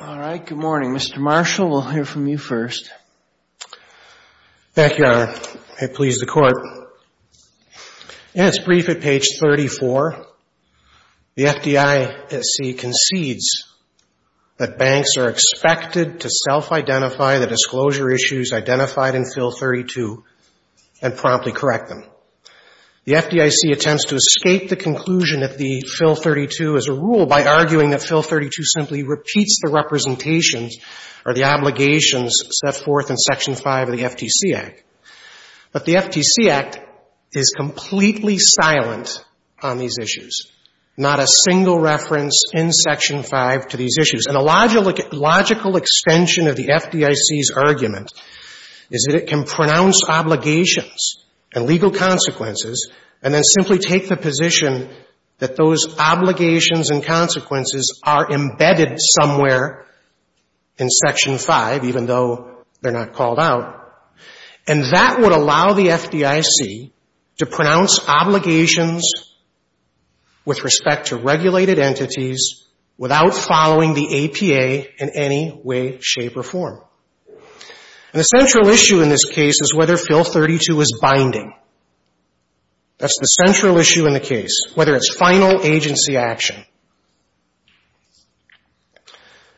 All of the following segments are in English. All right. Good morning. Mr. Marshall, we'll hear from you first. Thank you, Your Honor. May it please the Court. In its brief at page 34, the FDIC concedes that banks are expected to self-identify the disclosure issues identified in Fill 32 and promptly correct them. The FDIC attempts to escape the conclusion that the Fill 32 is a rule by arguing that Fill 32 simply repeats the representations or the obligations set forth in Section 5 of the FTC Act. But the FTC Act is completely silent on these issues, not a single reference in Section 5 to these issues. And a logical extension of the FDIC's argument is that it can pronounce obligations and legal consequences and then simply take the position that those obligations and consequences are embedded somewhere in Section 5, even though they're not called out. And that would allow the FDIC to pronounce obligations with respect to regulated entities without following the APA in any way, shape or form. And the central issue in this case is whether Fill 32 is binding. That's the central issue in the case, whether it's final agency action.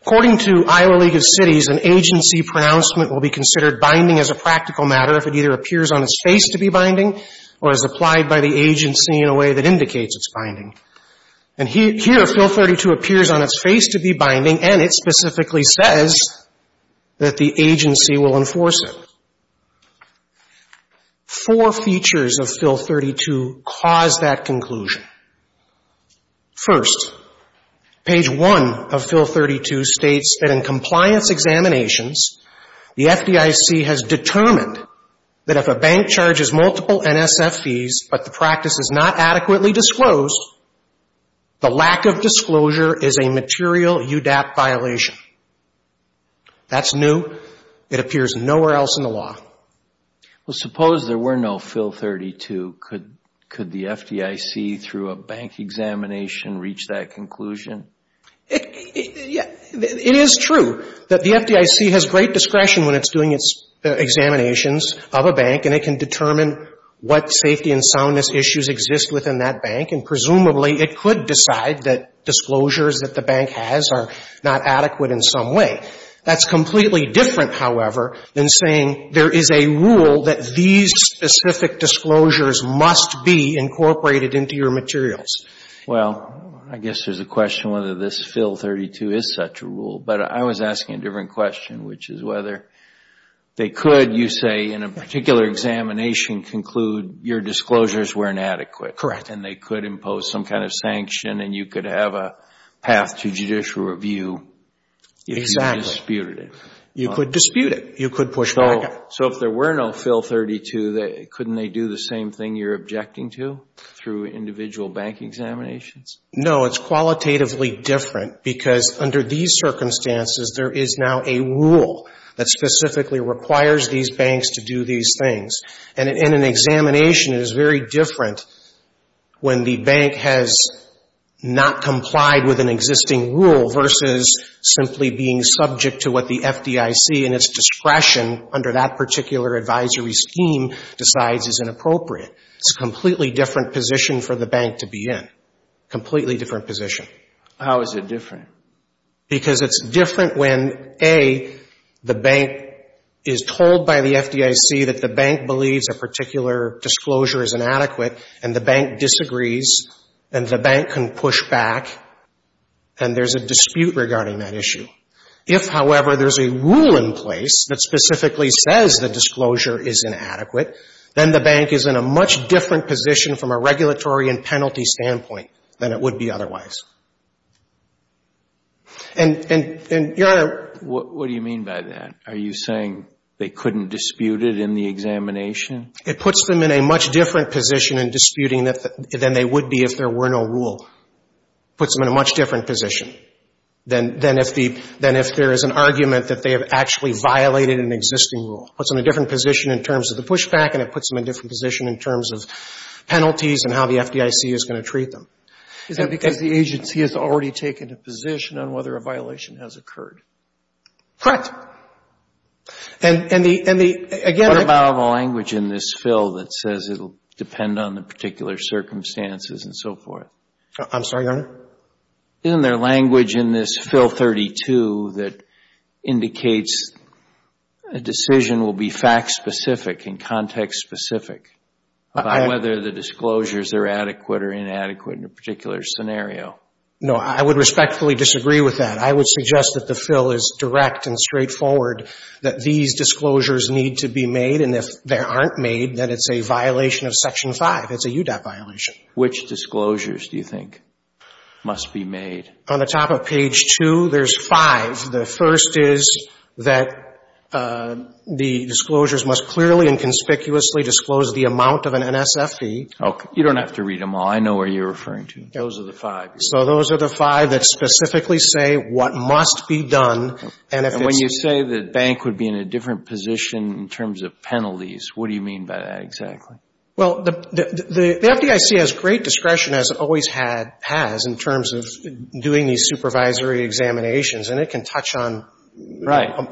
According to Iowa League of Cities, an agency pronouncement will be considered binding as a practical matter if it either appears on its face to be binding or is applied by the agency in a way that indicates it's binding. And here, here, Fill 32 appears on its face to be binding, and it specifically says that the agency will enforce it. Four features of Fill 32 cause that conclusion. First, page 1 of Fill 32 states that in compliance examinations, the FDIC has determined that if a bank charges multiple NSF fees but the practice is not adequately disclosed, the lack of disclosure is a material UDAP violation. That's new. It appears nowhere else in the law. Well, suppose there were no Fill 32. Could the FDIC, through a bank examination, reach that conclusion? It is true that the FDIC has great discretion when it's doing its examinations of a bank, and it can determine what safety and soundness issues exist within that bank. And presumably, it could decide that disclosures that the bank has are not adequate in some way. That's completely different, however, than saying there is a rule that these specific disclosures must be incorporated into your materials. Well, I guess there's a question whether this Fill 32 is such a rule. But I was asking a different question, which is whether they could, you say, in a particular examination, conclude your disclosures were inadequate. Correct. And they could impose some kind of sanction, and you could have a path to judicial review if you disputed it. Exactly. You could dispute it. You could push back on it. So if there were no Fill 32, couldn't they do the same thing you're objecting to through individual bank examinations? No. It's qualitatively different, because under these circumstances, there is now a rule that specifically requires these banks to do these things. And in an examination, it is very different when the bank has not complied with an existing rule versus simply being subject to what the FDIC, in its discretion under that particular advisory scheme, decides is inappropriate. It's a completely different position for the bank to be in. Completely different position. How is it different? Because it's different when, A, the bank is told by the FDIC that the bank believes a particular disclosure is inadequate, and the bank disagrees, and the bank can push back, and there's a dispute regarding that issue. If, however, there's a rule in place that specifically says the disclosure is inadequate, then the bank is in a much different position from a regulatory and penalty standpoint than it would be otherwise. And, Your Honor, What do you mean by that? Are you saying they couldn't dispute it in the examination? It puts them in a much different position in disputing than they would be if there were no rule. Puts them in a much different position than if there is an argument that they have actually violated an existing rule. Puts them in a different position in terms of the pushback, and it puts them in a different position in terms of penalties and how the FDIC is going to treat them. Is that because the agency has already taken a position on whether a violation has occurred? Correct. And the, again, What about the language in this fill that says it will depend on the particular circumstances and so forth? I'm sorry, Your Honor? Isn't there language in this fill 32 that indicates a decision will be fact specific and context specific about whether the disclosures are adequate or inadequate in a particular scenario? No, I would respectfully disagree with that. I would suggest that the fill is direct and straightforward, that these disclosures need to be made, and if they aren't made, then it's a violation of Section 5. It's a UDOT violation. Which disclosures do you think? Must be made. On the top of page 2, there's five. The first is that the disclosures must clearly and conspicuously disclose the amount of an NSF fee. You don't have to read them all. I know what you're referring to. Those are the five. So those are the five that specifically say what must be done. And when you say the bank would be in a different position in terms of penalties, what do you mean by that exactly? Well, the FDIC has great discretion, as it always has, in terms of doing these supervisory examinations. And it can touch on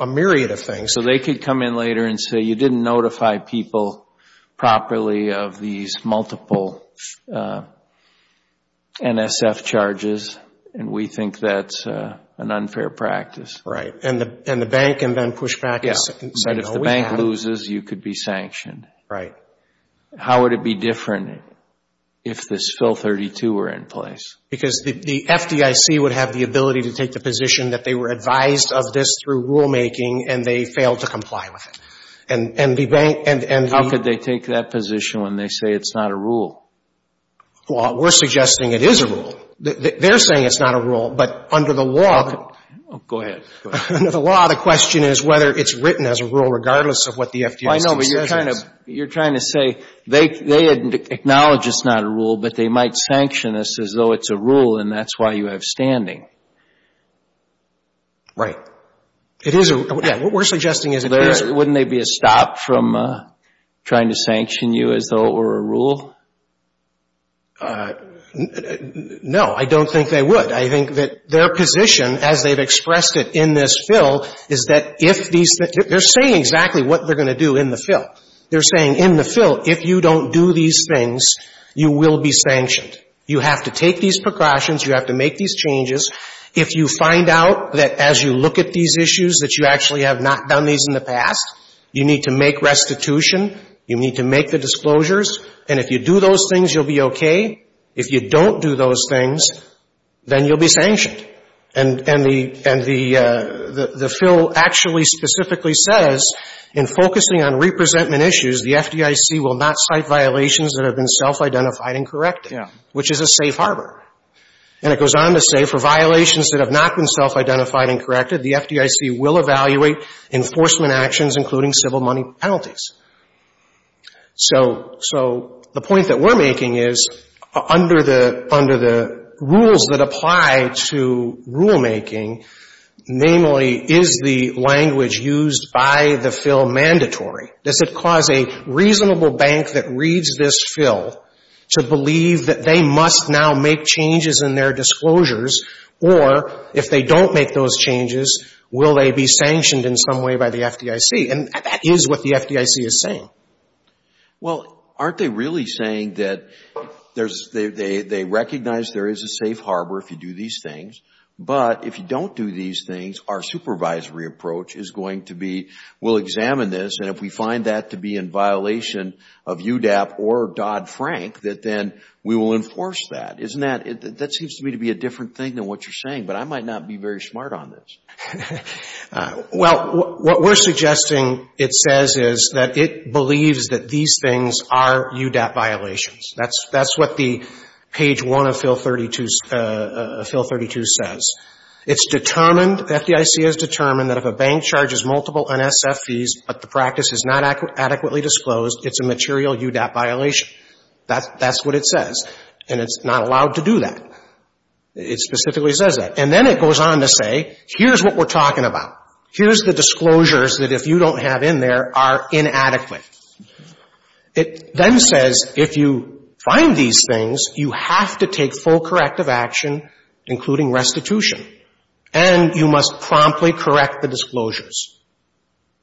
a myriad of things. So they could come in later and say, you didn't notify people properly of these multiple NSF charges, and we think that's an unfair practice. And the bank can then push back and say, no, we have them. If the bank closes, you could be sanctioned. Right. How would it be different if this fill 32 were in place? Because the FDIC would have the ability to take the position that they were advised of this through rulemaking, and they failed to comply with it. How could they take that position when they say it's not a rule? Well, we're suggesting it is a rule. They're saying it's not a rule, but under the law... Go ahead. Under the law, the question is whether it's written as a rule regardless of what the FDA's decision is. I know, but you're trying to say they acknowledge it's not a rule, but they might sanction us as though it's a rule, and that's why you have standing. Right. It is a rule. Yeah. What we're suggesting is... Wouldn't there be a stop from trying to sanction you as though it were a rule? No, I don't think they would. I think that their position, as they've expressed it in this fill, is that if these things... They're saying exactly what they're going to do in the fill. They're saying in the fill, if you don't do these things, you will be sanctioned. You have to take these precautions. You have to make these changes. If you find out that as you look at these issues that you actually have not done these in the past, you need to make restitution. You need to make the disclosures. And if you do those things, you'll be okay. If you don't do those things, then you'll be sanctioned. And the fill actually specifically says, in focusing on representment issues, the FDIC will not cite violations that have been self-identified and corrected, which is a safe harbor. And it goes on to say, for violations that have not been self-identified and corrected, the FDIC will evaluate enforcement actions, including civil money penalties. So the point that we're making is, under the rules that apply to rulemaking, namely, is the language used by the fill mandatory? Does it cause a reasonable bank that reads this fill to believe that they must now make changes in their disclosures, or if they don't make those changes, will they be sanctioned in some way by the FDIC? And that is what the FDIC is saying. Well, aren't they really saying that they recognize there is a safe harbor if you do these things, but if you don't do these things, our supervisory approach is going to be, we'll examine this, and if we find that to be in violation of UDAP or Dodd-Frank, that then we will enforce that. Isn't that, that seems to me to be a different thing than what you're saying, but I might not be very smart on this. Well, what we're suggesting it says is that it believes that these things are UDAP violations. That's what the page one of fill 32 says. It's determined, FDIC has determined, that if a bank charges multiple NSF fees, but the practice is not adequately disclosed, it's a material UDAP violation. That's what it says. And it's not allowed to do that. It specifically says that. And then it goes on to say, here's what we're talking about. Here's the disclosures that if you don't have in there, are inadequate. It then says if you find these things, you have to take full corrective action, including restitution. And you must promptly correct the disclosures.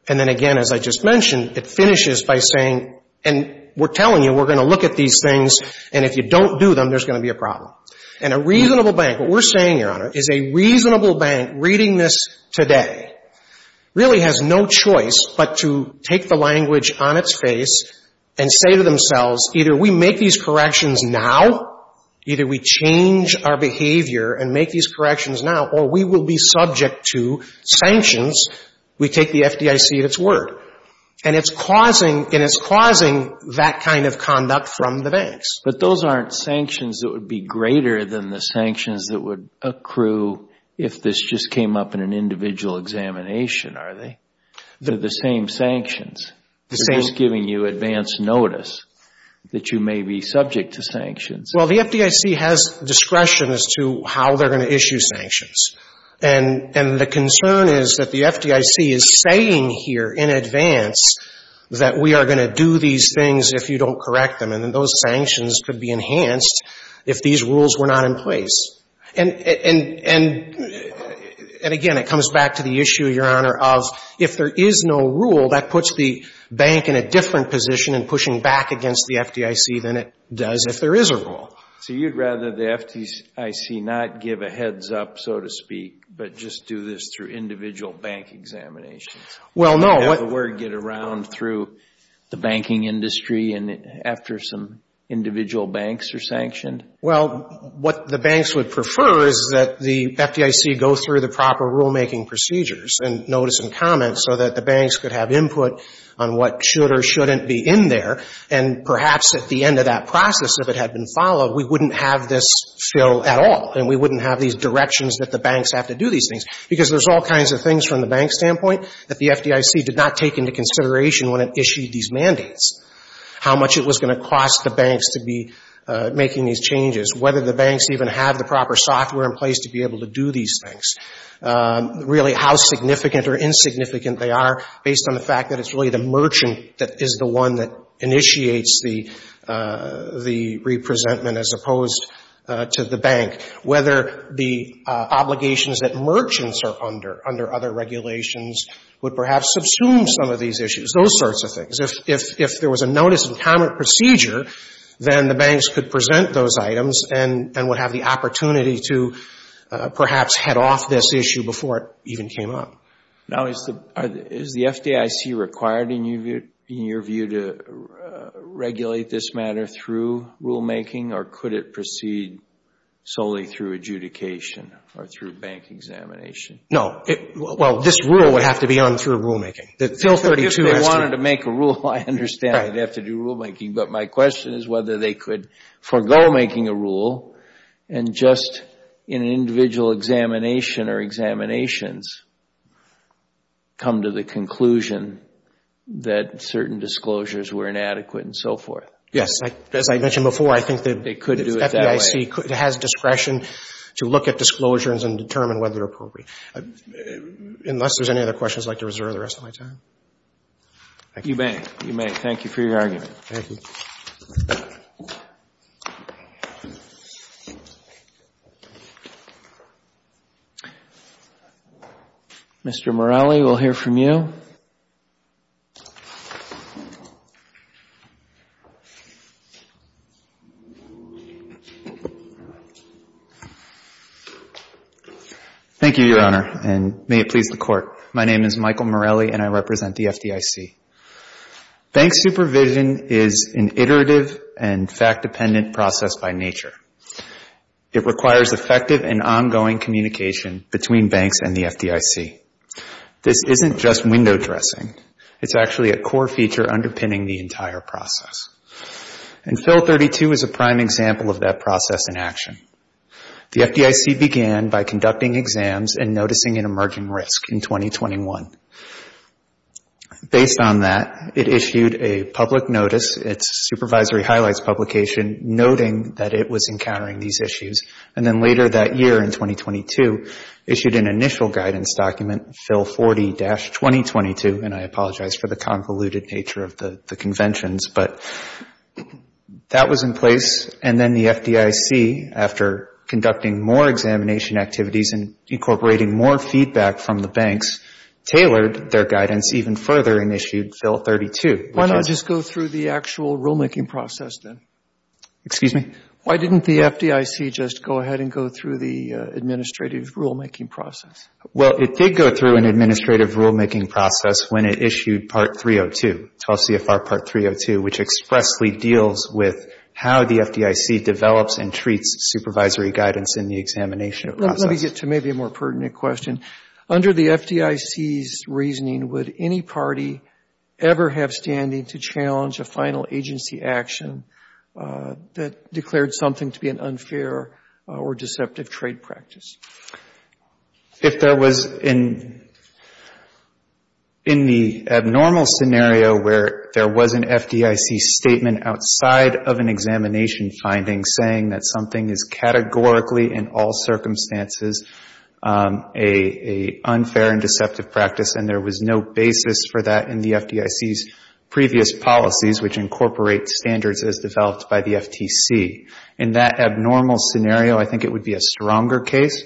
And then again, as I just mentioned, it finishes by saying, and we're telling you we're going to look at these things, and if you don't do them, there's going to be a problem. And a reasonable bank, what we're saying, Your Honor, is a reasonable bank reading this today really has no choice but to take the language on its face and say to themselves, either we make these corrections now, either we change our behavior and make these corrections now, or we will be subject to sanctions. We take the FDIC at its word. And it's causing, and it's causing that kind of conduct from the banks. But those aren't sanctions that would be greater than the sanctions that would accrue if this just came up in an individual examination, are they? They're the same sanctions. They're just giving you advance notice that you may be subject to sanctions. Well, the FDIC has discretion as to how they're going to issue sanctions. And the concern is that the FDIC is saying here in advance that we are going to do these things if you don't correct them. And then those sanctions could be enhanced if these rules were not in place. And again, it comes back to the issue, Your Honor, of if there is no rule, that puts the bank in a different position in pushing back against the FDIC than it does if there is a rule. So you'd rather the FDIC not give a heads-up, so to speak, but just do this through individual bank examinations? Well, no. Have the word get around through the banking industry after some individual banks are sanctioned? Well, what the banks would prefer is that the FDIC go through the proper rulemaking procedures and notice and comments so that the banks could have input on what should or shouldn't be in there. And perhaps at the end of that process, if it had been followed, we wouldn't have this fill at all and we wouldn't have these directions that the banks have to do these things. Because there's all kinds of things from the bank's standpoint that the FDIC did not take into consideration when it issued these mandates, how much it was going to cost the banks to be making these changes, whether the banks even have the proper software in place to be able to do these things, really how significant or insignificant they are based on the fact that it's really the merchant that is the one that initiates the representment as opposed to the bank, whether the obligations that merchants are under under other regulations would perhaps subsume some of these issues, those sorts of things. If there was a notice and comment procedure, then the banks could present those items and would have the opportunity to perhaps head off this issue before it even came up. Now, is the FDIC required, in your view, to regulate this matter through rulemaking or could it proceed solely through adjudication or through bank examination? No. Well, this rule would have to be on through rulemaking. If they wanted to make a rule, I understand they'd have to do rulemaking. But my question is whether they could forgo making a rule and just in an individual examination or examinations come to the conclusion that certain disclosures were inadequate and so forth. As I mentioned before, I think that FDIC has discretion to look at disclosures and determine whether they're appropriate. Unless there's any other questions, I'd like to reserve the rest of my time. You may. You may. Thank you for your argument. Mr. Morelli, we'll hear from you. Thank you, Your Honor, and may it please the Court. My name is Michael Morelli and I represent the FDIC. Bank supervision is an iterative and fact-dependent process by nature. It requires effective and ongoing communication between banks and the FDIC. This isn't just window dressing. It's actually a core feature underpinning the entire process. And Fill 32 is a prime example of that process in action. The FDIC began by conducting exams and noticing an emerging risk in 2021. Based on that, it issued a public notice. Its supervisory highlights publication noting that it was encountering these issues. And then later that year in 2022, issued an initial guidance document, Fill 40-2022, and I apologize for the convoluted nature of the conventions, but that was in place. And then the FDIC, after conducting more examination activities and incorporating more feedback from the banks, tailored their guidance even further and issued Fill 32. Why not just go through the actual rulemaking process then? Excuse me? Why didn't the FDIC just go ahead and go through the administrative rulemaking process? Well, it did go through an administrative rulemaking process when it issued Part 302, 12 CFR Part 302, which expressly deals with how the FDIC develops and treats supervisory guidance in the examination process. Let me get to maybe a more pertinent question. Under the FDIC's reasoning, would any party ever have standing to challenge a final agency action that declared something to be an unfair or deceptive trade practice? If there was in the abnormal scenario where there was an FDIC statement outside of an examination finding saying that something is categorically, in all circumstances, an unfair and deceptive practice, and there was no basis for that in the FDIC's previous policies, which incorporate standards as developed by the FTC. In that abnormal scenario, I think it would be a stronger case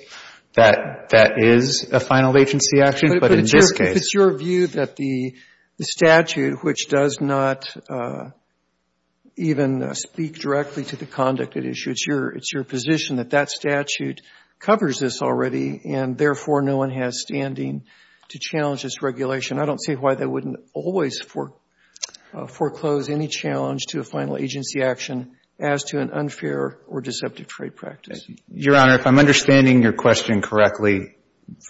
that that is a final agency action, but in this case... But if it's your view that the statute, which does not even speak directly to the conduct it issued, it's your position that that statute covers this already, and therefore no one has standing to challenge this regulation, I don't see why they wouldn't always foreclose any challenge to a final agency action as to an unfair or deceptive trade practice. Your Honor, if I'm understanding your question correctly,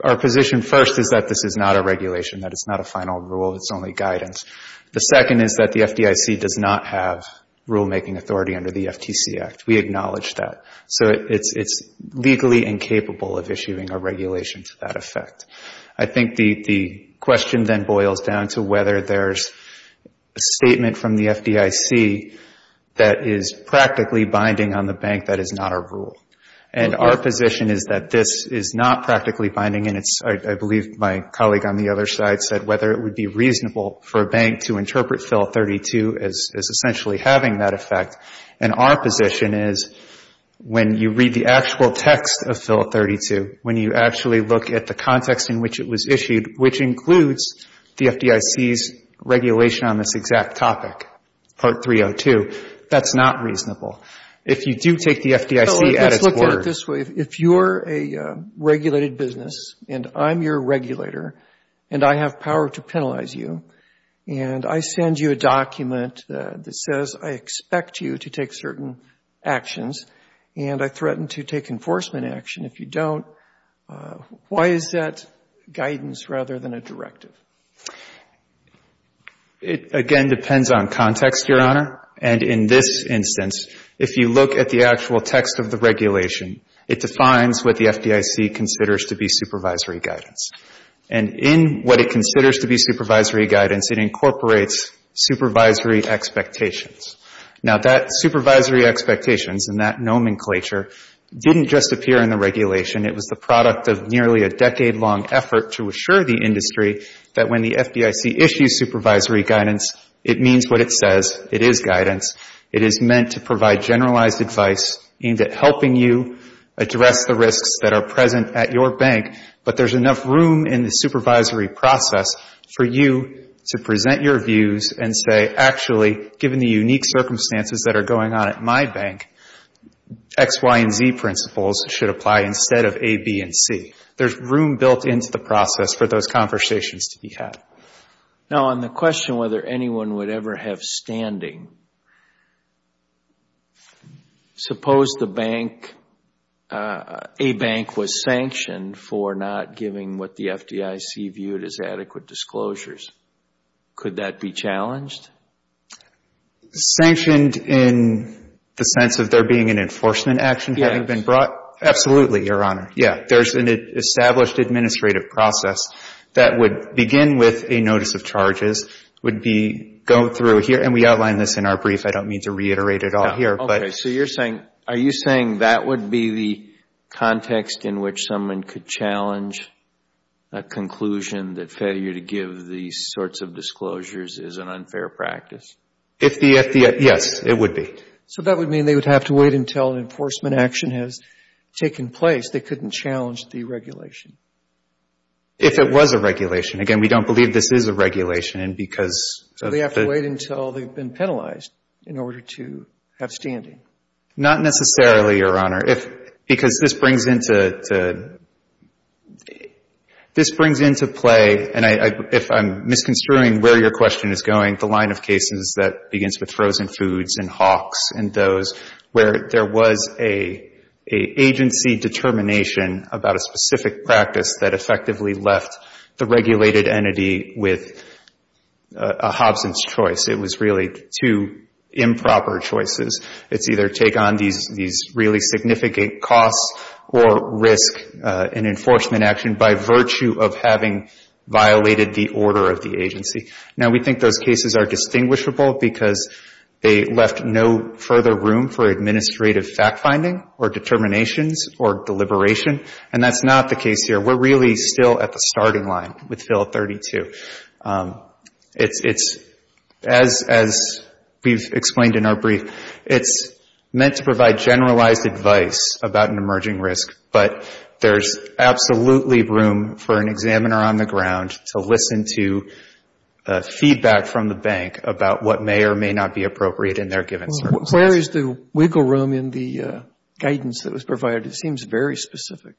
our position first is that this is not a regulation, that it's not a final rule, it's only guidance. The second is that the FDIC does not have rulemaking authority under the FTC Act. We acknowledge that. So it's legally incapable of issuing a regulation to that effect. I think the question then boils down to whether there's a statement from the FDIC that is practically binding on the bank that is not a rule. And our position is that this is not practically binding, and I believe my colleague on the other side said whether it would be reasonable for a bank to interpret Fill 32 as essentially having that effect. And our position is when you read the actual text of Fill 32, when you actually look at the context in which it was issued, which includes the FDIC's regulation on this exact topic, Part 302, that's not reasonable. If you do take the FDIC at its word... Let's look at it this way. If you're a regulated business, and I'm your regulator, and I have power to penalize you, and I send you a document that says I expect you to take certain actions, and I threaten to take enforcement action if you don't, why is that guidance rather than a directive? It, again, depends on context, Your Honor. And in this instance, if you look at the actual text of the regulation, it defines what the FDIC considers to be supervisory guidance. And in what it considers to be supervisory guidance, it incorporates supervisory expectations. Now, that supervisory expectations and that nomenclature didn't just appear in the regulation. It was the product of nearly a decade-long effort to assure the industry that when the FDIC issues supervisory guidance, it means what it says. It is guidance. It is meant to provide generalized advice aimed at helping you address the risks that are present at your bank, but there's enough room in the supervisory process for you to present your views and say, actually, given the unique circumstances that are going on at my bank, X, Y, and Z principles should apply instead of A, B, and C. There's room built into the process for those conversations to be had. Now, on the question whether anyone would ever have standing, suppose the bank, a bank was sanctioned for not giving what the FDIC viewed as adequate disclosures. Could that be challenged? Sanctioned in the sense of there being an enforcement action having been brought? Absolutely, Your Honor. Yeah, there's an established administrative process that would begin with a notice of charges, would be going through here, and we outline this in our brief. I don't mean to reiterate it all here. Okay, so you're saying, are you saying that would be the context in which someone could challenge a conclusion that failure to give these sorts of disclosures is an unfair practice? If the FDIC, yes, it would be. So that would mean they would have to wait until an enforcement action has taken place. They couldn't challenge the regulation. If it was a regulation. Again, we don't believe this is a regulation, and because of the... So they have to wait until they've been penalized in order to have standing. Not necessarily, Your Honor. If, because this brings into play, and if I'm misconstruing where your question is going, the line of cases that begins with frozen foods and Hawks and those, where there was an agency determination about a specific practice that effectively left the regulated entity with a Hobson's choice. It was really two improper choices. It's either take on these really significant costs or risk an enforcement action by virtue of having violated the order of the agency. Now, we think those cases are distinguishable because they left no further room for administrative fact-finding or determinations or deliberation, and that's not the case here. We're really still at the starting line with Fill 32. It's, as we've explained in our brief, it's meant to provide generalized advice about an emerging risk, but there's absolutely room for an examiner on the ground to listen to feedback from the bank about what may or may not be appropriate in their given circumstances. Where is the wiggle room in the guidance that was provided? It seems very specific.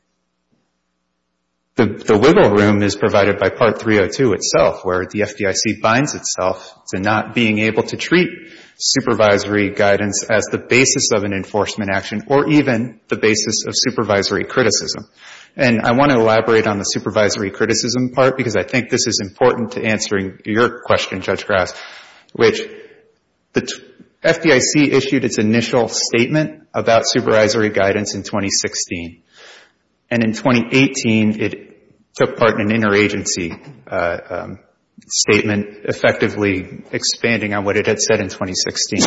The wiggle room is provided by Part 302 itself, where the FDIC binds itself to not being able to treat supervisory guidance as the basis of an enforcement action or even the basis of supervisory criticism. And I want to elaborate on the supervisory criticism part because I think this is important to answering your question, Judge Grass, which the FDIC issued its initial statement about supervisory guidance in 2016, and in 2018, it took part in an interagency statement effectively expanding on what it had said in 2016.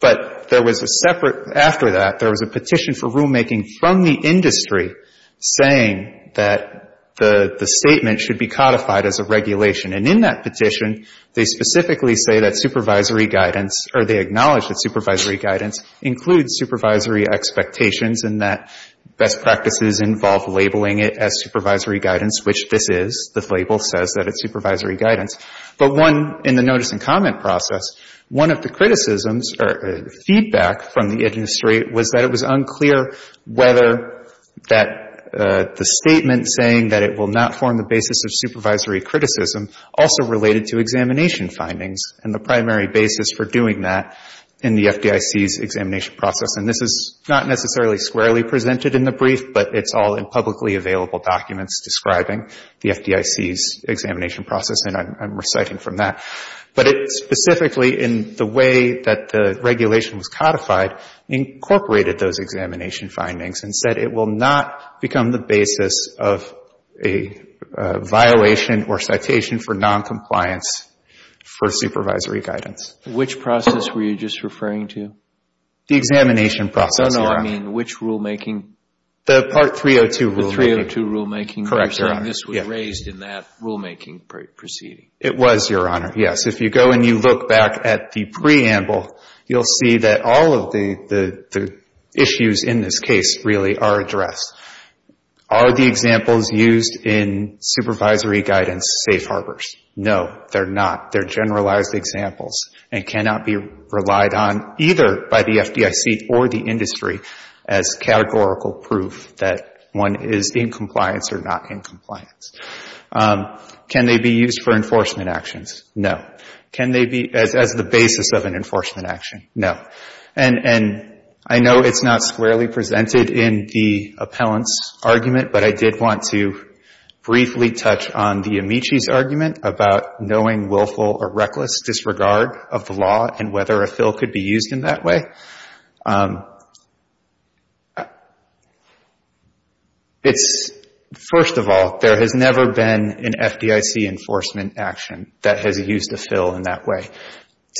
But there was a separate, after that, there was a petition for rulemaking from the industry saying that the statement should be codified as a regulation. And in that petition, they specifically say that supervisory guidance, or they acknowledge that supervisory guidance includes supervisory expectations and that best practices involve labeling it as supervisory guidance, which this is. The label says that it's supervisory guidance. But one, in the notice and comment process, one of the criticisms or feedback from the industry was that it was unclear whether that the statement saying that it will not form the basis of supervisory criticism also related to examination findings and the primary basis for doing that in the FDIC's examination process. And this is not necessarily squarely presented in the brief, but it's all in publicly available documents describing the FDIC's examination process, and I'm reciting from that. But it specifically, in the way that the regulation was codified, incorporated those examination findings and said it will not become the basis of a violation or citation for noncompliance for supervisory guidance. Which process were you just referring to? The examination process, Your Honor. No, no, I mean which rulemaking? The Part 302 rulemaking. The 302 rulemaking. Correct, Your Honor. This was raised in that rulemaking proceeding. It was, Your Honor. Yes, if you go and you look back at the preamble, you'll see that all of the issues in this case really are addressed. Are the examples used in supervisory guidance safe harbors? No, they're not. They're generalized examples and cannot be relied on either by the FDIC or the industry as categorical proof that one is in compliance or not in compliance. Can they be used for enforcement actions? No. Can they be as the basis of an enforcement action? No. And I know it's not squarely presented in the appellant's argument, but I did want to briefly touch on the Amici's argument about knowing willful or reckless disregard of the law and whether a fill could be used in that way. It's, first of all, there has never been an FDIC enforcement action that has used a fill in that way.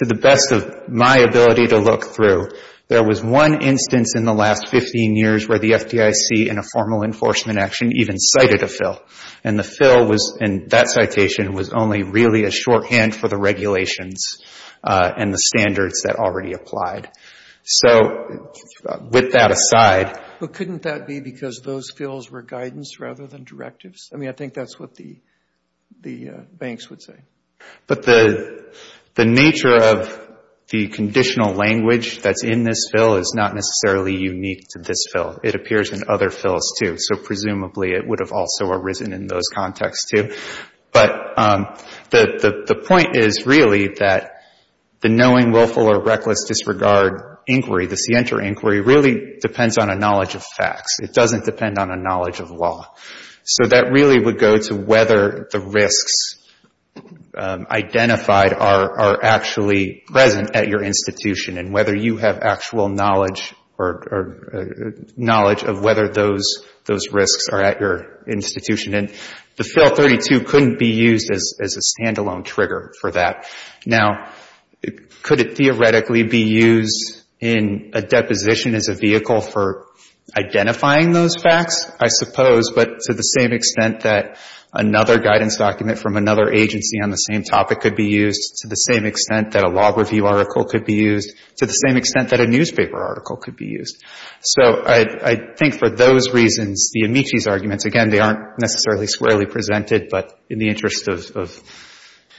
To the best of my ability to look through, there was one instance in the last 15 years where the FDIC in a formal enforcement action even cited a fill. And the fill was, and that citation was only really a shorthand for the regulations and the standards that already applied. So, with that aside... But couldn't that be because those fills were guidance rather than directives? I mean, I think that's what the banks would say. But the nature of the conditional language that's in this fill is not necessarily unique to this fill. It appears in other fills, too. So, presumably, it would have also arisen in those contexts, too. But the point is, really, that the knowing, willful, or reckless disregard inquiry, the scienter inquiry, really depends on a knowledge of facts. It doesn't depend on a knowledge of law. So, that really would go to whether the risks identified are actually present at your institution and whether you have actual knowledge or knowledge of whether those risks are at your institution. And the Fill 32 couldn't be used as a stand-alone trigger for that. Now, could it theoretically be used in a deposition as a vehicle for those facts? I suppose, but to the same extent that another guidance document from another agency on the same topic could be used, to the same extent that a law review article could be used, to the same extent that a newspaper article could be used. So, I think, for those reasons, the Amici's arguments, again, they aren't necessarily squarely presented, but in the interest of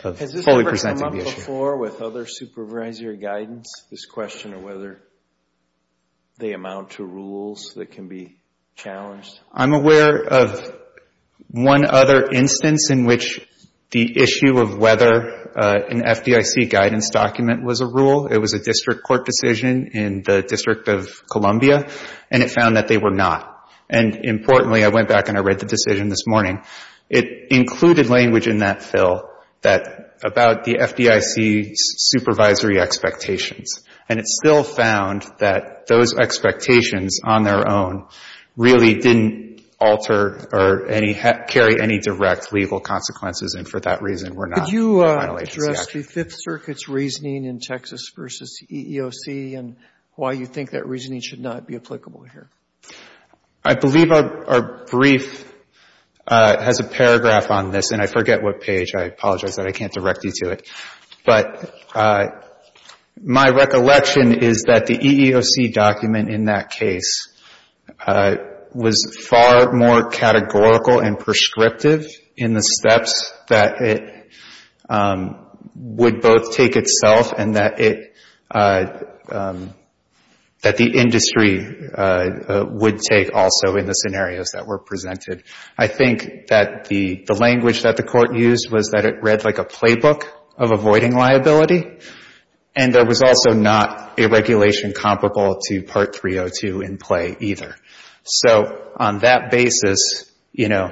fully presenting the issue. before with other supervisory guidance, this question of whether they amount to rules that can be challenged? I'm aware of one other instance in which the issue of whether an FDIC guidance document was a rule, it was a district court decision in the District of Columbia, and it found that they were not. And, importantly, I went back and I read the decision this morning, it included language in that fill that, about the FDIC supervisory expectations, and it still found that those expectations on their own really didn't alter or carry any direct legal consequences and for that reason we're not Could you address the Fifth Circuit's reasoning in Texas versus EEOC and why you think that reasoning should not be applicable here? I believe our brief has a paragraph on this, and I forget what page, I apologize that I can't direct you to it. But, my recollection is that the EEOC document in that case was far more categorical and prescriptive in the steps that it would both take itself and that it that the industry would take also in the scenarios that were presented. I think that the language that the court used was that it read like a playbook of avoiding liability and there was also not a regulation comparable to Part 302 in play either. So, on that basis, you know,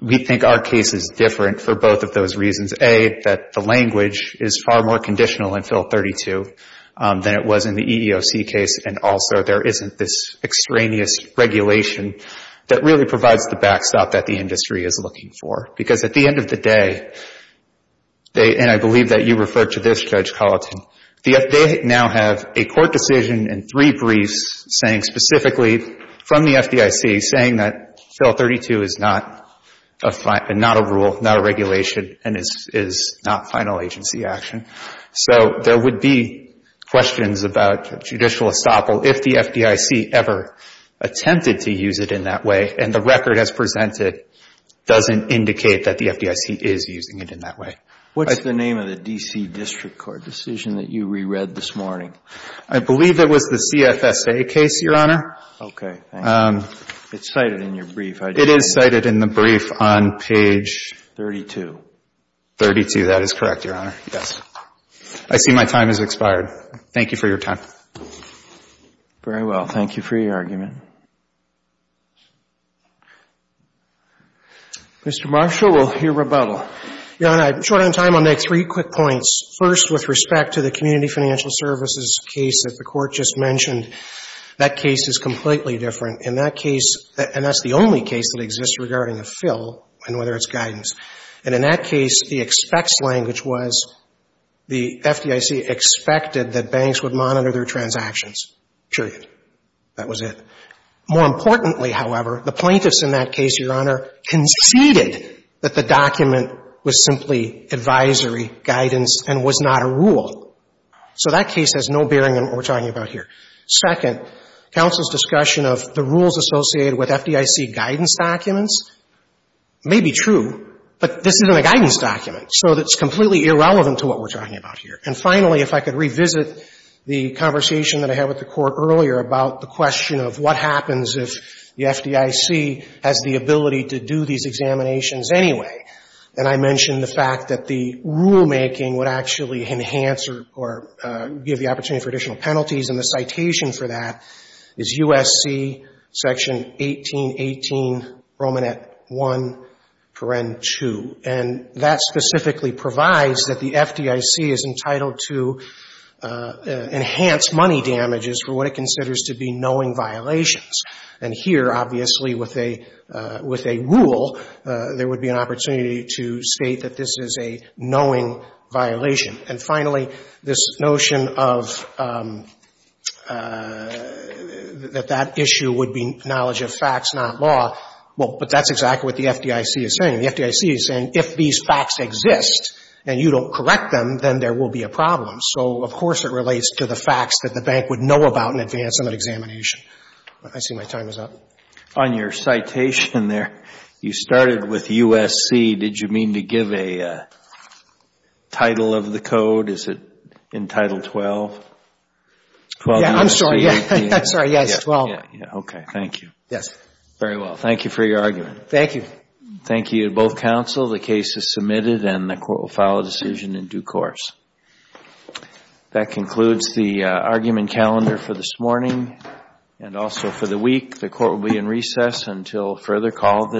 we think that there are cases different for both of those reasons. A, that the language is far more conditional in Fill 32 than it was in the EEOC case and also there isn't this extraneous regulation that really provides the backstop that the industry is looking for. Because at the end of the day, and I believe that you referred to this, Judge Colleton, they now have a court decision and three briefs saying specifically from the FDIC saying that this is not a rule, not a regulation and this is not final agency action. So, there would be questions about judicial estoppel if the FDIC ever attempted to use it in that way and the record as presented doesn't indicate that the FDIC is using it in that way. What's the name of the D.C. District Court decision that you re-read this morning? I believe it was the CFSA case, Your Honor. Okay. It's cited in your brief. It is cited in the brief on page 32. 32, that is correct, Your Honor. Yes. I see my time has expired. Thank you for your time. Very well. Thank you for your argument. Mr. Marshall, we'll hear rebuttal. Your Honor, I'm short on time. I'll make three quick points. First, with respect to the Community Financial Services case that the Court just mentioned, that case is completely different. In that case, and that's the only case that exists regarding a fill and whether it's guidance. And in that case, the expects language was the FDIC expected that banks would monitor their transactions. Period. That was it. More importantly, however, the plaintiffs in that case, Your Honor, conceded that the document was simply advisory guidance and was not a rule. So that case has no bearing on what we're talking about here. Second, counsel's discussion of the rules associated with FDIC guidance documents may be true, but this isn't a guidance document. So it's completely irrelevant to what we're talking about here. And finally, if I could revisit the conversation that I had with the Court earlier about the question of what happens if the FDIC has the ability to do these examinations anyway. And I mentioned the fact that the rulemaking would actually enhance or give the opportunity for additional penalties and the citation for that is USC Section 1818 Romanet 1 2. And that specifically provides that the FDIC is entitled to enhance money damages for what it considers to be knowing violations. And here, obviously, with a rule, there would be an opportunity to state that this is a knowing violation. And finally, this notion of that that issue would be knowledge of facts, not law, well, but that's exactly what the FDIC is saying. The FDIC is saying, if these facts exist and you don't know about them, to the facts that the bank would know about in advance of an examination. I see my time is up. On your citation there, you started with USC. Did you mean to give a title of the code? Is it in Title 12? Yeah, I'm sorry. Yeah. I'm sorry. Yes, 12. Okay. Thank you. Yes. Very well. Thank you for your argument. Thank you. Thank you to both counsel. The case is submitted and the court will file a in due course. That concludes the argument calendar for this morning and also for the week. The court will be in recess until further call of